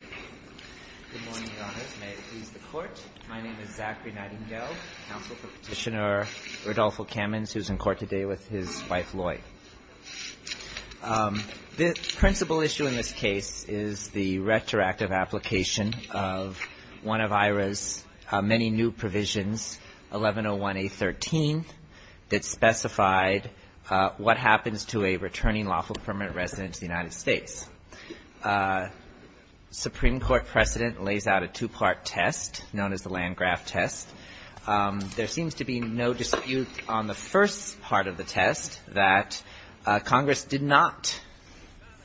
Good morning, Your Honors. May it please the Court. My name is Zachary Nightingale, counsel for Petitioner Rodolfo Camins, who is in court today with his wife, Lloyd. The principal issue in this case is the retroactive application of one of IHRA's many new provisions, 1101A13, that specified what happens to a returning lawful permanent resident of the United States. The Supreme Court precedent lays out a two-part test known as the Landgraf test. There seems to be no dispute on the first part of the test that Congress did not,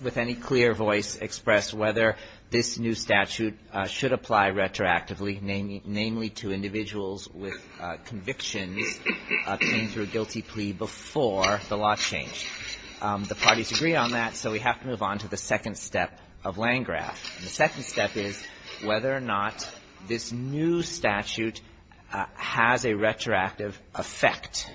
with any clear voice, express whether this new statute should apply retroactively, namely to individuals with convictions coming through a guilty plea before the law changed. The parties agree on that, so we have to move on to the second step of Landgraf. The second step is whether or not this new statute has a retroactive effect.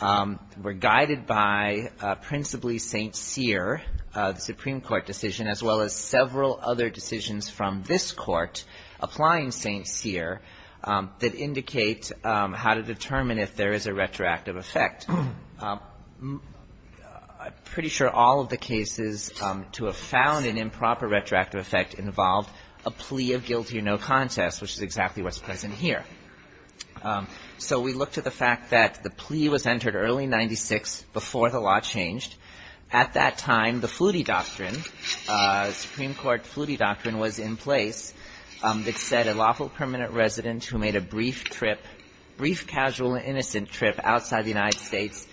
We're guided by principally St. Cyr, the Supreme Court decision, as well as several other decisions from this Court applying St. Cyr that indicate how to determine if there is a retroactive effect. I'm pretty sure all of the cases to have found an improper retroactive effect involved a plea of guilty or no contest, which is exactly what's present here. So we look to the fact that the plea was entered early in 1996 before the law changed. At that time, the Flutie Doctrine, Supreme Court Flutie Doctrine was in place that said a lawful permanent resident who made a brief trip, brief casual and innocent trip outside the United States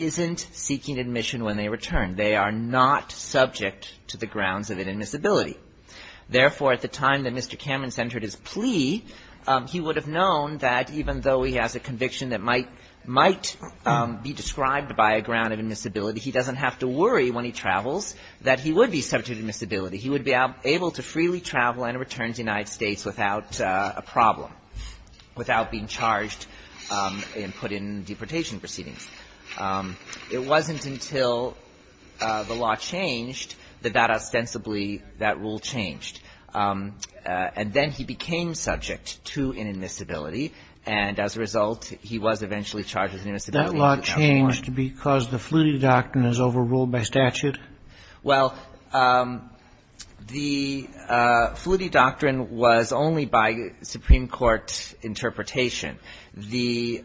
isn't seeking admission when they return. They are not subject to the grounds of inadmissibility. Therefore, at the time that Mr. Camerons entered his plea, he would have known that even though he has a conviction that might be described by a ground of admissibility, he doesn't have to worry when he travels that he would be subject to admissibility. He would be able to freely travel and return to the United States without a problem, without being charged and put in deportation proceedings. It wasn't until the law changed that that ostensibly that rule changed. And then he became subject to inadmissibility. And as a result, he was eventually charged with inadmissibility. That law changed because the Flutie Doctrine is overruled by statute? Well, the Flutie Doctrine was only by Supreme Court interpretation. The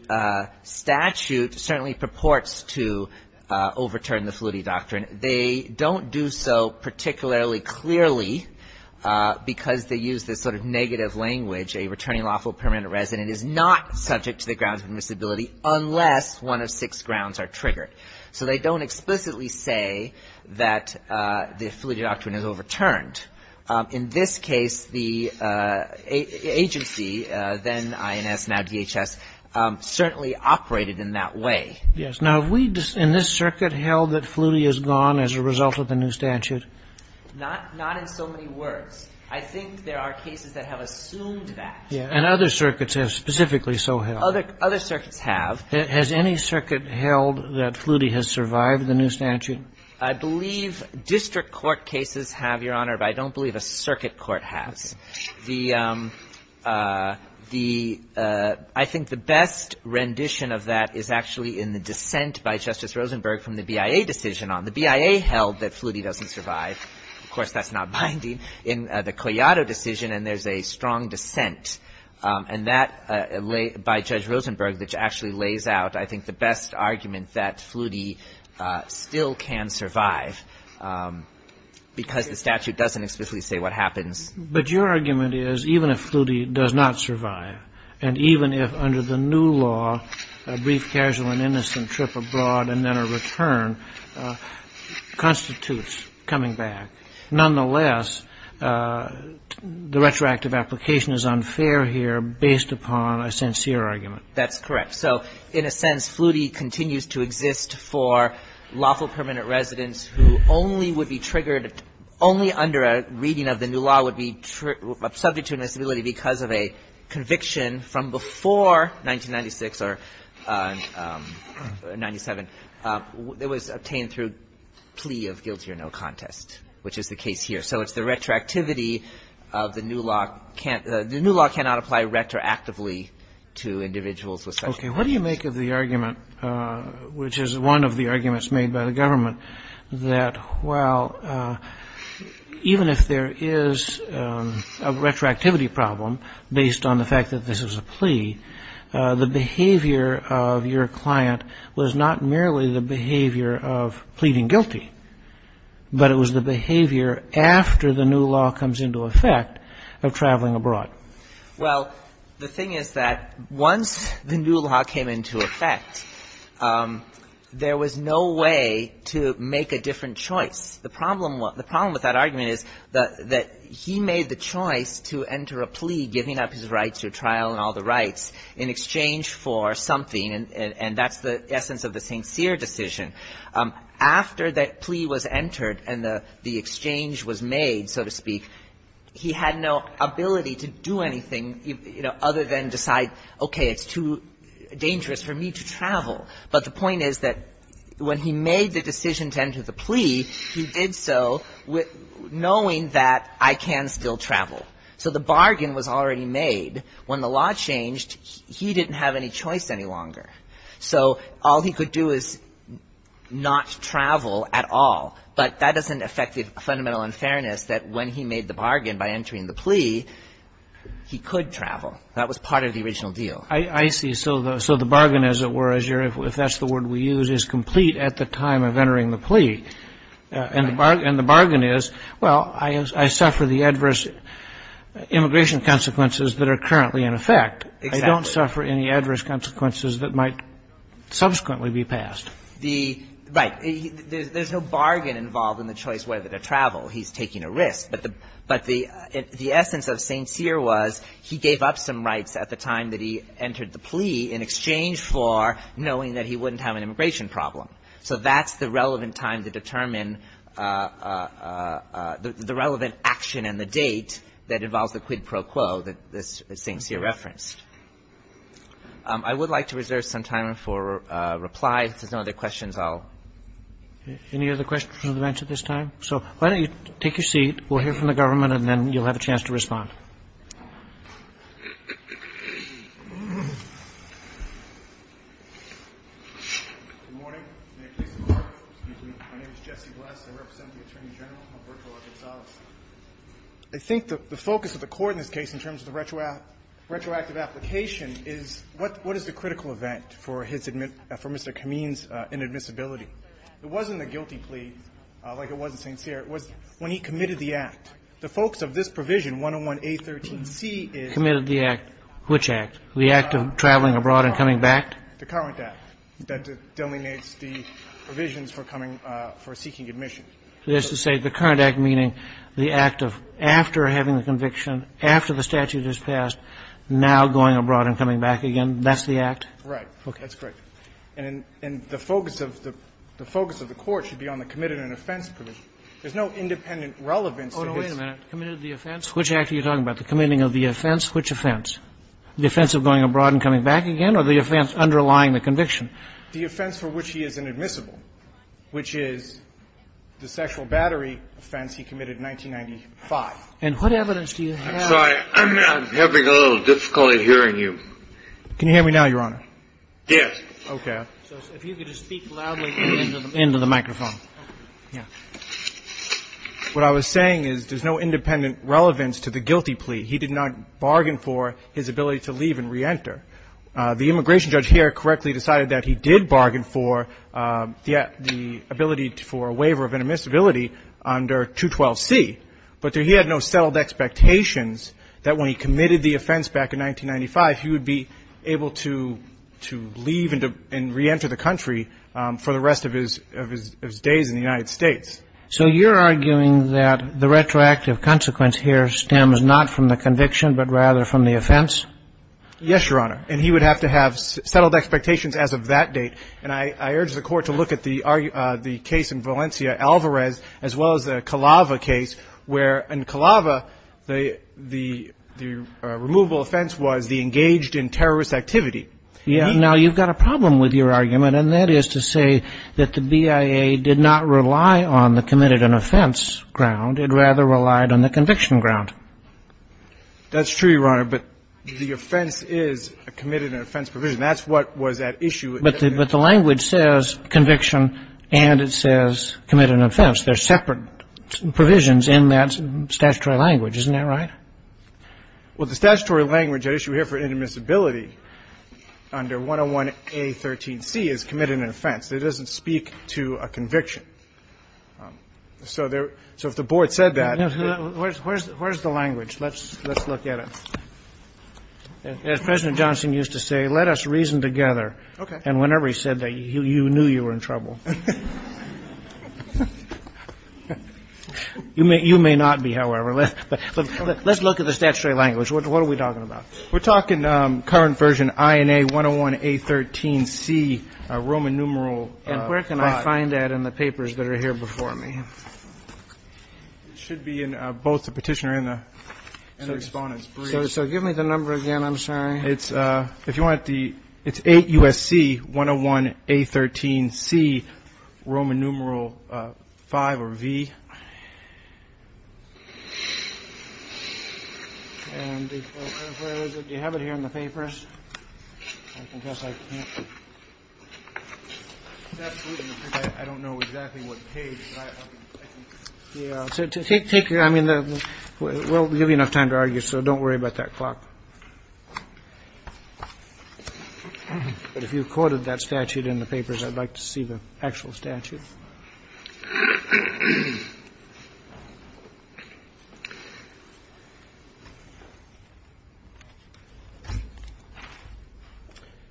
statute certainly purports to overturn the Flutie Doctrine. They don't do so particularly clearly because they use this sort of negative language. A returning lawful permanent resident is not subject to the grounds of admissibility unless one of six grounds are triggered. So they don't explicitly say that the Flutie Doctrine is overturned. In this case, the agency, then INS, now DHS, certainly operated in that way. Yes. Now, have we in this circuit held that Flutie is gone as a result of the new statute? Not in so many words. I think there are cases that have assumed that. And other circuits have specifically so held. Other circuits have. Has any circuit held that Flutie has survived the new statute? I believe district court cases have, Your Honor. But I don't believe a circuit court has. The – I think the best rendition of that is actually in the dissent by Justice Rosenberg from the BIA decision on it. The BIA held that Flutie doesn't survive. Of course, that's not binding. In the Collado decision, and there's a strong dissent, and that, by Judge Rosenberg, which actually lays out, I think, the best argument that Flutie still can survive because the statute doesn't explicitly say what happens. But your argument is even if Flutie does not survive, and even if under the new law a brief, casual, and innocent trip abroad and then a return constitutes coming back, nonetheless, the retroactive application is unfair here based upon a sincere argument. That's correct. So, in a sense, Flutie continues to exist for lawful permanent residents who only would be triggered – only under a reading of the new law would be subject to invisibility because of a conviction from before 1996 or 97. It was obtained through plea of guilty or no contest, which is the case here. So it's the retroactivity of the new law. The new law cannot apply retroactively to individuals with such conditions. Okay. What do you make of the argument, which is one of the arguments made by the government, that, well, even if there is a retroactivity problem based on the fact that this is a plea, the behavior of your client was not merely the behavior of pleading guilty, but it was the behavior after the new law comes into effect of traveling abroad? Well, the thing is that once the new law came into effect, there was no way to make a different choice. The problem with that argument is that he made the choice to enter a plea, giving up his rights to a trial and all the rights, in exchange for something. And that's the essence of the sincere decision. After that plea was entered and the exchange was made, so to speak, he had no objection to the ability to do anything, you know, other than decide, okay, it's too dangerous for me to travel. But the point is that when he made the decision to enter the plea, he did so knowing that I can still travel. So the bargain was already made. When the law changed, he didn't have any choice any longer. So all he could do is not travel at all. And by entering the plea, he could travel. That was part of the original deal. I see. So the bargain, as it were, as you're – if that's the word we use, is complete at the time of entering the plea. And the bargain is, well, I suffer the adverse immigration consequences that are currently in effect. Exactly. I don't suffer any adverse consequences that might subsequently be passed. The – right. There's no bargain involved in the choice whether to travel. He's taking a risk. But the – but the essence of St. Cyr was he gave up some rights at the time that he entered the plea in exchange for knowing that he wouldn't have an immigration problem. So that's the relevant time to determine the relevant action and the date that involves the quid pro quo that St. Cyr referenced. I would like to reserve some time for replies. If there's no other questions, I'll – Any other questions on the bench at this time? So why don't you take your seat. We'll hear from the government, and then you'll have a chance to respond. Good morning. May it please the Court. Excuse me. My name is Jesse Bless. I represent the Attorney General, Alberto Arcazales. I think the focus of the Court in this case in terms of the retroactive application is what is the critical event for his – for Mr. Kameen's inadmissibility. It wasn't the guilty plea like it was in St. Cyr. It was when he committed the act. The focus of this provision, 101A13C, is – Committed the act. Which act? The act of traveling abroad and coming back? The current act that delineates the provisions for coming – for seeking admission. That is to say the current act meaning the act of after having the conviction, after the statute has passed, now going abroad and coming back again. That's the act? Right. That's correct. And the focus of the – the focus of the Court should be on the committed and offense provision. There's no independent relevance to this. Oh, no, wait a minute. Committed the offense? Which act are you talking about? The committing of the offense? Which offense? The offense of going abroad and coming back again or the offense underlying the conviction? The offense for which he is inadmissible, which is the sexual battery offense he committed in 1995. And what evidence do you have? I'm sorry. I'm having a little difficulty hearing you. Can you hear me now, Your Honor? Yes. Okay. So if you could just speak loudly into the microphone. Yeah. What I was saying is there's no independent relevance to the guilty plea. He did not bargain for his ability to leave and reenter. The immigration judge here correctly decided that he did bargain for the ability for a waiver of inadmissibility under 212C, but he had no settled expectations that when he committed the offense back in 1995 he would be able to leave and reenter the country for the rest of his days in the United States. So you're arguing that the retroactive consequence here stems not from the conviction but rather from the offense? Yes, Your Honor. And he would have to have settled expectations as of that date. And I urge the Court to look at the case in Valencia, Alvarez, as well as the Calava case where in Calava the removal offense was the engaged in terrorist activity. Now, you've got a problem with your argument, and that is to say that the BIA did not rely on the committed an offense ground. It rather relied on the conviction ground. That's true, Your Honor, but the offense is a committed an offense provision. That's what was at issue. But the language says conviction and it says committed an offense. They're separate provisions in that statutory language. Isn't that right? Well, the statutory language at issue here for inadmissibility under 101A13C is committed an offense. It doesn't speak to a conviction. So if the Board said that. Where's the language? Let's look at it. As President Johnson used to say, let us reason together. Okay. And whenever he said that, you knew you were in trouble. You may not be, however. Let's look at the statutory language. What are we talking about? We're talking current version INA 101A13C, Roman numeral. And where can I find that in the papers that are here before me? It should be in both the Petitioner and the Respondent's brief. So give me the number again. I'm sorry. It's if you want the it's 8 U.S.C. 101A13C Roman numeral five or V. You have it here in the papers. I don't know exactly what page. Yeah. Take your I mean, we'll give you enough time to argue. So don't worry about that clock. But if you've quoted that statute in the papers, I'd like to see the actual statute.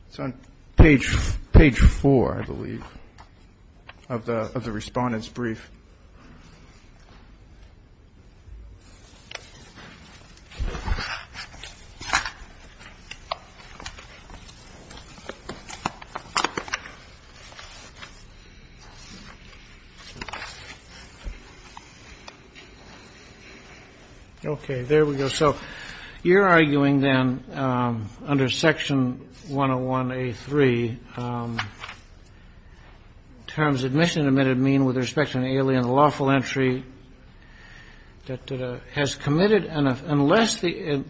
It's on page four, I believe, of the Respondent's brief. Okay. There we go. So you're arguing then under Section 101A3 terms admission admitted mean with respect to an alien lawful entry that has committed unless the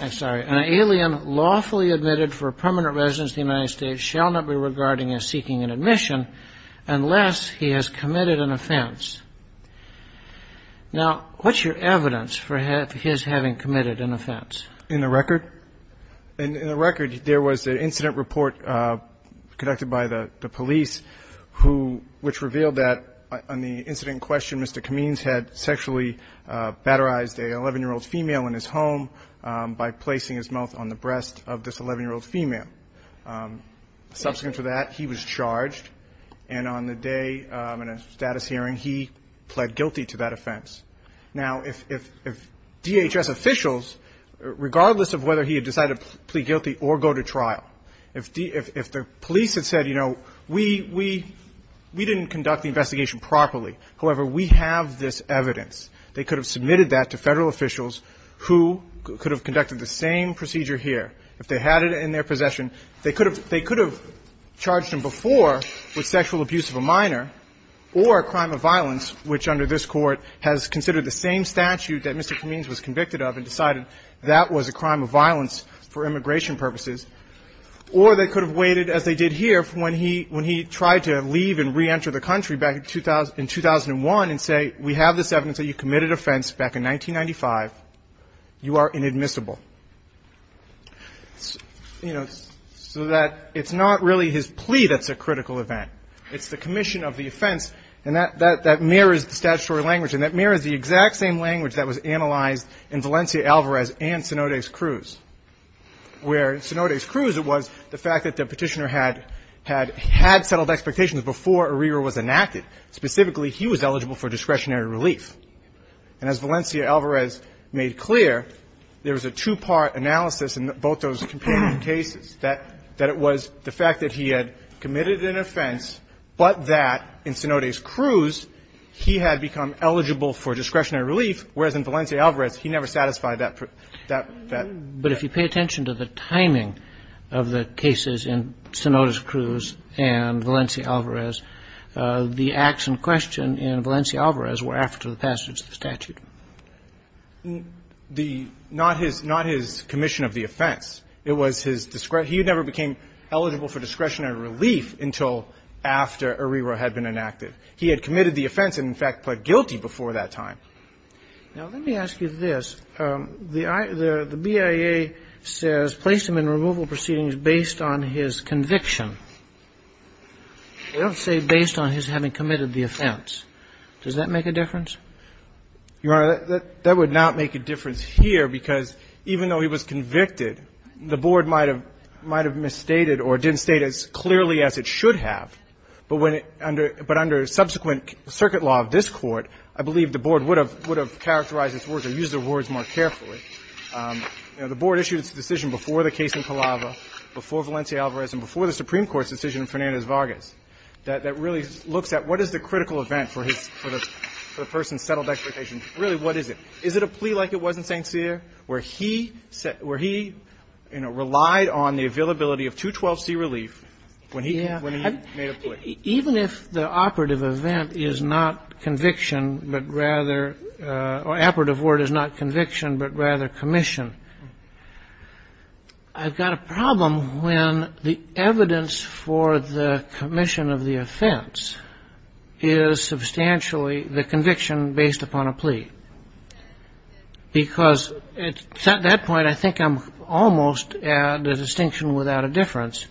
I'm sorry, an alien lawfully admitted for permanent residence in the United States shall not be regarded as seeking an admission unless he has committed an offense. Now, what's your evidence for his having committed an offense? In the record? In the record, there was an incident report conducted by the police who which revealed that on the incident in question, Mr. Kameens had sexually batterized an 11-year-old female in his home by placing his mouth on the breast of this 11-year-old female. Subsequent to that, he was charged. And on the day in a status hearing, he pled guilty to that offense. Now, if DHS officials, regardless of whether he had decided to plead guilty or go to trial, if the police had said, you know, we didn't conduct the investigation properly, however, we have this evidence, they could have submitted that to Federal officials who could have conducted the same procedure here if they had it in their possession. They could have charged him before with sexual abuse of a minor or a crime of violence, which under this Court has considered the same statute that Mr. Kameens was convicted of and decided that was a crime of violence for immigration purposes, or they could have waited as they did here when he tried to leave and reenter the country back in 2001 and say, we have this evidence that you committed offense back in 1995. You are inadmissible. You know, so that it's not really his plea that's a critical event. It's the commission of the offense, and that mirrors the statutory language, and that mirrors the exact same language that was analyzed in Valencia-Alvarez and Cenodes-Cruz, where in Cenodes-Cruz it was the fact that the Petitioner had had settled expectations before Arrear was enacted. Specifically, he was eligible for discretionary relief. And as Valencia-Alvarez made clear, there was a two-part analysis in both those comparative cases, that it was the fact that he had committed an offense, but that in Cenodes-Cruz he had become eligible for discretionary relief, whereas in Valencia-Alvarez he never satisfied that. But if you pay attention to the timing of the cases in Cenodes-Cruz and Valencia-Alvarez, the acts in question in Valencia-Alvarez were after the passage of the statute. The not his commission of the offense. It was his discretion. He never became eligible for discretionary relief until after Arrear had been enacted. He had committed the offense and, in fact, pled guilty before that time. Now, let me ask you this. The BIA says, placed him in removal proceedings based on his conviction. They don't say based on his having committed the offense. Does that make a difference? Your Honor, that would not make a difference here, because even though he was convicted, the Board might have misstated or didn't state as clearly as it should have. But under subsequent circuit law of this Court, I believe the Board would have characterized its words or used the words more carefully. You know, the Board issued its decision before the case in Palava, before Valencia-Alvarez, and before the Supreme Court's decision in Fernandez-Vargas that really looks at what is the critical event for the person's settled expectation. Really, what is it? Is it a plea like it was in St. Cyr, where he, you know, relied on the availability of 212C relief when he made a plea? Even if the operative event is not conviction, but rather or operative word is not conviction, but rather commission, I've got a problem when the evidence for the commission of the offense is substantially the conviction based upon a plea. Because at that point, I think I'm almost at a distinction without a difference,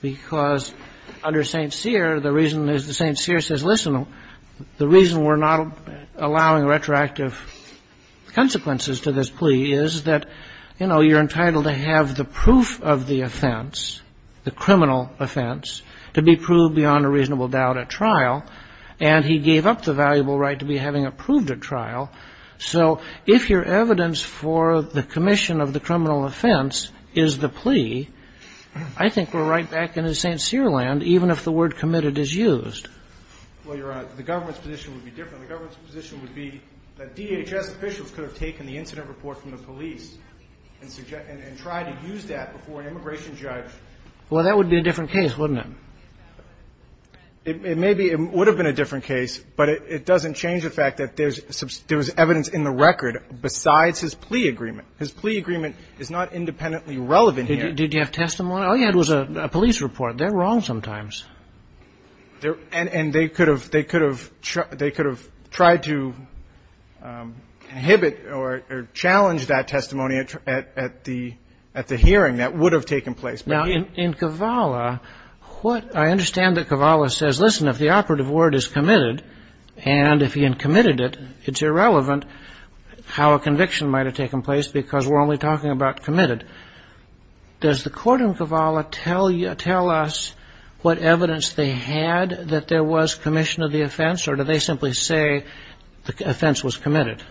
because under St. Cyr, the reason is the St. Cyr says, listen, the reason we're not allowing retroactive consequences to this plea is that, you know, you're entitled to have the proof of the offense, the criminal offense, to be proved beyond a reasonable doubt at trial. And he gave up the valuable right to be having it proved at trial. So if your evidence for the commission of the criminal offense is the plea, I think we're right back into St. Cyr land, even if the word committed is used. Well, Your Honor, the government's position would be different. The government's position would be that DHS officials could have taken the incident report from the police and tried to use that before an immigration judge. Well, that would be a different case, wouldn't it? It may be. It would have been a different case, but it doesn't change the fact that there's evidence in the record besides his plea agreement. His plea agreement is not independently relevant yet. Did you have testimony? Oh, yeah, it was a police report. They're wrong sometimes. And they could have tried to inhibit or challenge that testimony at the hearing that would have taken place. Now, in Kavala, I understand that Kavala says, listen, if the operative word is committed and if he had committed it, it's irrelevant how a conviction might have taken place because we're only talking about committed. Does the court in Kavala tell us what evidence they had that there was commission of the offense, or do they simply say the offense was committed?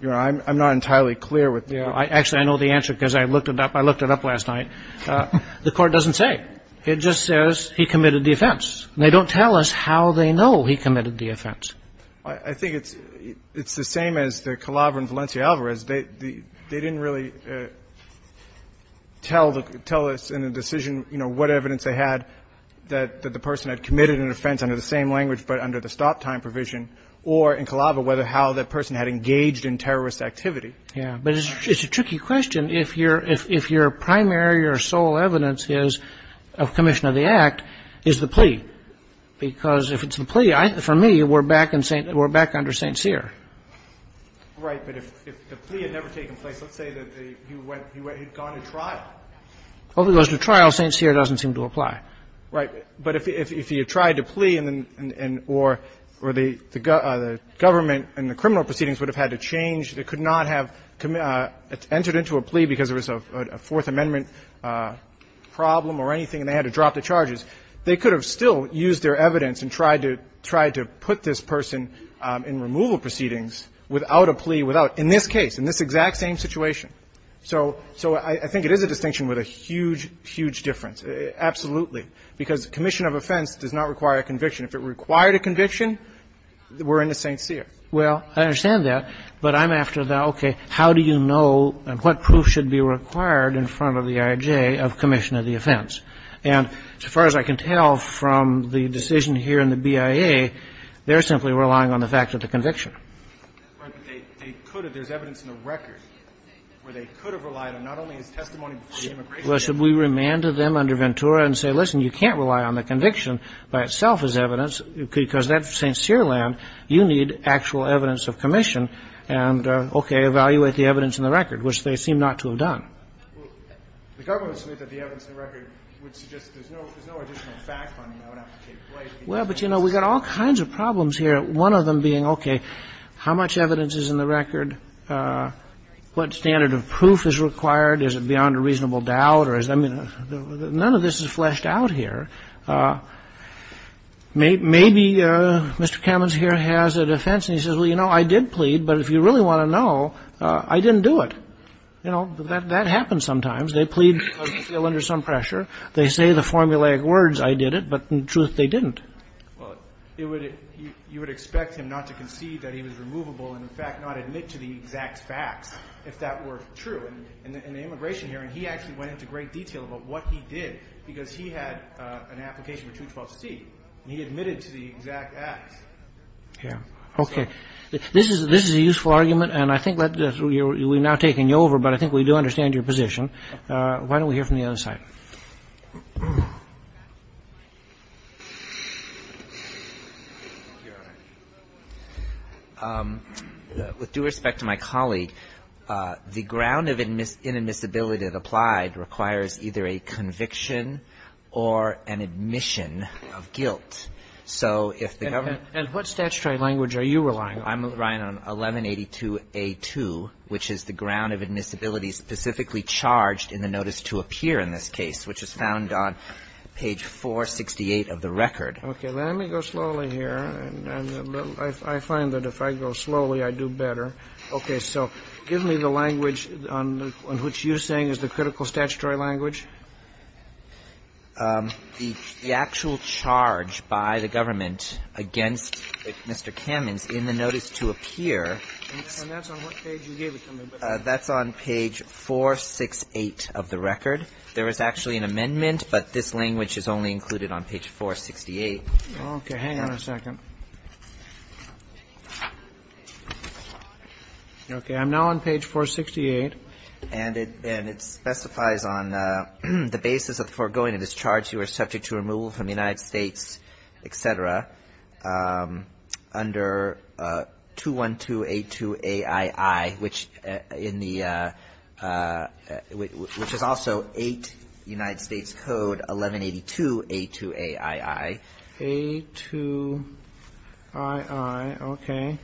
Your Honor, I'm not entirely clear with you. Actually, I know the answer because I looked it up. I looked it up last night. The court doesn't say. It just says he committed the offense. And they don't tell us how they know he committed the offense. I think it's the same as the Kavala and Valencia Alvarez. They didn't really tell us in the decision, you know, what evidence they had that the person had committed an offense under the same language but under the stop time provision or in Kavala whether how that person had engaged in terrorist activity. Yeah. But it's a tricky question. If your primary or sole evidence is of commission of the act is the plea, because if it's the plea, for me, we're back under St. Cyr. Right. But if the plea had never taken place, let's say that he had gone to trial. Well, if he goes to trial, St. Cyr doesn't seem to apply. Right. But if he had tried to plea or the government and the criminal proceedings would have had to change, they could not have entered into a plea because there was a Fourth Amendment problem or anything, and they had to drop the charges. They could have still used their evidence and tried to put this person in removal proceedings without a plea, without, in this case, in this exact same situation. So I think it is a distinction with a huge, huge difference, absolutely, because commission of offense does not require a conviction. If it required a conviction, we're into St. Cyr. Well, I understand that, but I'm after the, okay, how do you know and what proof should be required in front of the IJ of commission of the offense? And as far as I can tell from the decision here in the BIA, they're simply relying on the fact that the conviction. Right. But they could have. There's evidence in the record where they could have relied on not only his testimony before the immigration court. Well, should we remand to them under Ventura and say, listen, you can't rely on the conviction by itself as evidence because that's St. Cyr land. You need actual evidence of commission and, okay, evaluate the evidence in the record, which they seem not to have done. Well, the government would submit that the evidence in the record would suggest there's no additional fact finding that would have to take place. Well, but, you know, we've got all kinds of problems here, one of them being, okay, how much evidence is in the record? What standard of proof is required? Is it beyond a reasonable doubt? I mean, none of this is fleshed out here. Maybe Mr. Kamens here has a defense, and he says, well, you know, I did plead, but if you really want to know, I didn't do it. You know, that happens sometimes. They plead under some pressure. They say the formulaic words, I did it, but in truth, they didn't. Well, you would expect him not to concede that he was removable and, in fact, not admit to the exact facts if that were true. In the immigration hearing, he actually went into great detail about what he did because he had an application for 212C, and he admitted to the exact facts. Yeah. Okay. This is a useful argument, and I think we've now taken you over, but I think we do understand your position. Why don't we hear from the other side? With due respect to my colleague, the ground of inadmissibility applied requires either a conviction or an admission of guilt. And what statutory language are you relying on? I'm relying on 1182A2, which is the ground of admissibility specifically charged in the notice to appear in this case, which is found on page 468 of the record. Okay. Let me go slowly here. I find that if I go slowly, I do better. Okay. So give me the language on which you're saying is the critical statutory language. The actual charge by the government against Mr. Kamens in the notice to appear is on page 468 of the record. There is actually an amendment, but this language is only included on page 468. Okay. Hang on a second. Okay. I'm now on page 468. And it specifies on the basis of foregoing a discharge, you are subject to removal from the United States, et cetera, under 212A2AII, which in the ‑‑ which is also 8 United States Code 1182A2AII. A2II. Okay.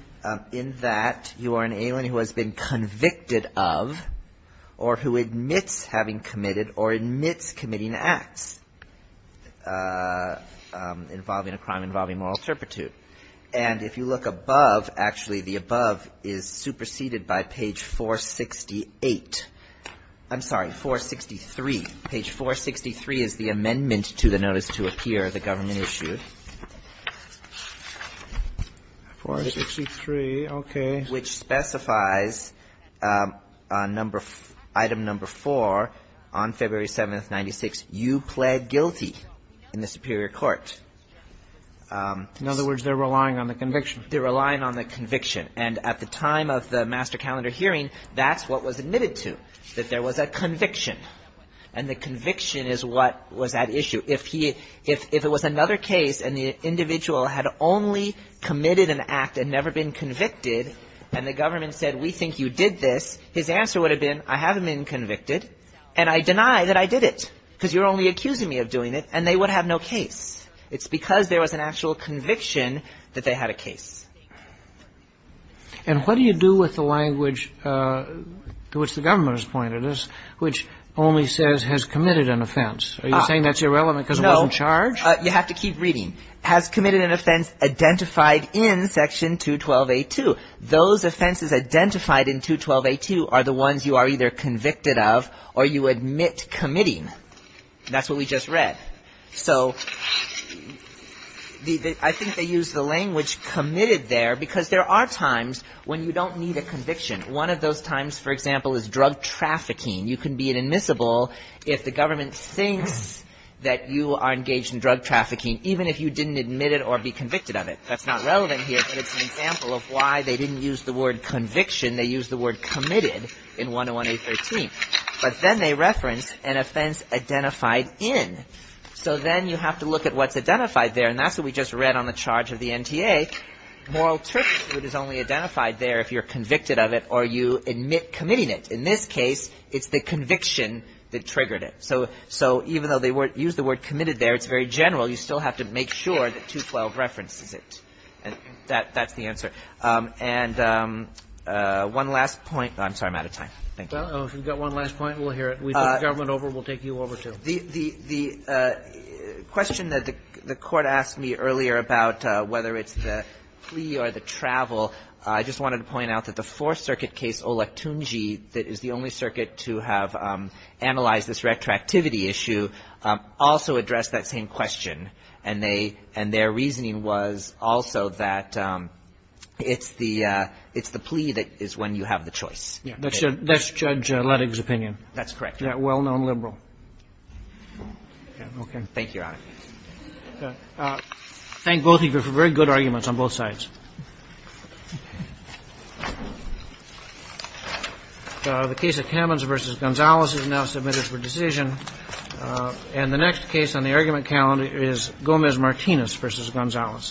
In that you are an alien who has been convicted of or who admits having committed or admits committing acts involving a crime involving moral turpitude. And if you look above, actually the above is superseded by page 468. I'm sorry, 463. Page 463 is the amendment to the notice to appear, the government issue. 463. Okay. Which specifies item number 4 on February 7th, 96, you plead guilty in the superior court. In other words, they're relying on the conviction. They're relying on the conviction. And at the time of the master calendar hearing, that's what was admitted to, that there was a conviction. And the conviction is what was at issue. If it was another case and the individual had only committed an act and never been convicted and the government said, we think you did this, his answer would have been, I haven't been convicted, and I deny that I did it, because you're only accusing me of doing it, and they would have no case. It's because there was an actual conviction that they had a case. And what do you do with the language to which the government has pointed us, which only says has committed an offense? Are you saying that's irrelevant because it wasn't charged? No. You have to keep reading. Has committed an offense identified in Section 212A2. Those offenses identified in 212A2 are the ones you are either convicted of or you admit committing. That's what we just read. So I think they use the language committed there because there are times when you don't need a conviction. One of those times, for example, is drug trafficking. You can be an admissible if the government thinks that you are engaged in drug trafficking, even if you didn't admit it or be convicted of it. That's not relevant here, but it's an example of why they didn't use the word conviction. They used the word committed in 101A13. But then they reference an offense identified in. So then you have to look at what's identified there, and that's what we just read on the charge of the NTA. Moral turpitude is only identified there if you're convicted of it or you admit committing it. In this case, it's the conviction that triggered it. So even though they used the word committed there, it's very general. You still have to make sure that 212 references it. And that's the answer. And one last point. I'm sorry. I'm out of time. Thank you. Roberts. Well, if you've got one last point, we'll hear it. We took government over. We'll take you over, too. The question that the Court asked me earlier about whether it's the plea or the travel, I just wanted to point out that the Fourth Circuit case Olectungi, that is the only circuit to have analyzed this retroactivity issue, also addressed that same question. And they — and their reasoning was also that it's the — it's the plea that is when you have the choice. That's Judge Ledig's opinion. That's correct. That well-known liberal. Okay. Thank you, Your Honor. Thank both of you for very good arguments on both sides. The case of Kamens v. Gonzalez is now submitted for decision. And the next case on the argument calendar is Gomez-Martinez v. Gonzalez. Thank you, Your Honor. Thank you, Your Honor.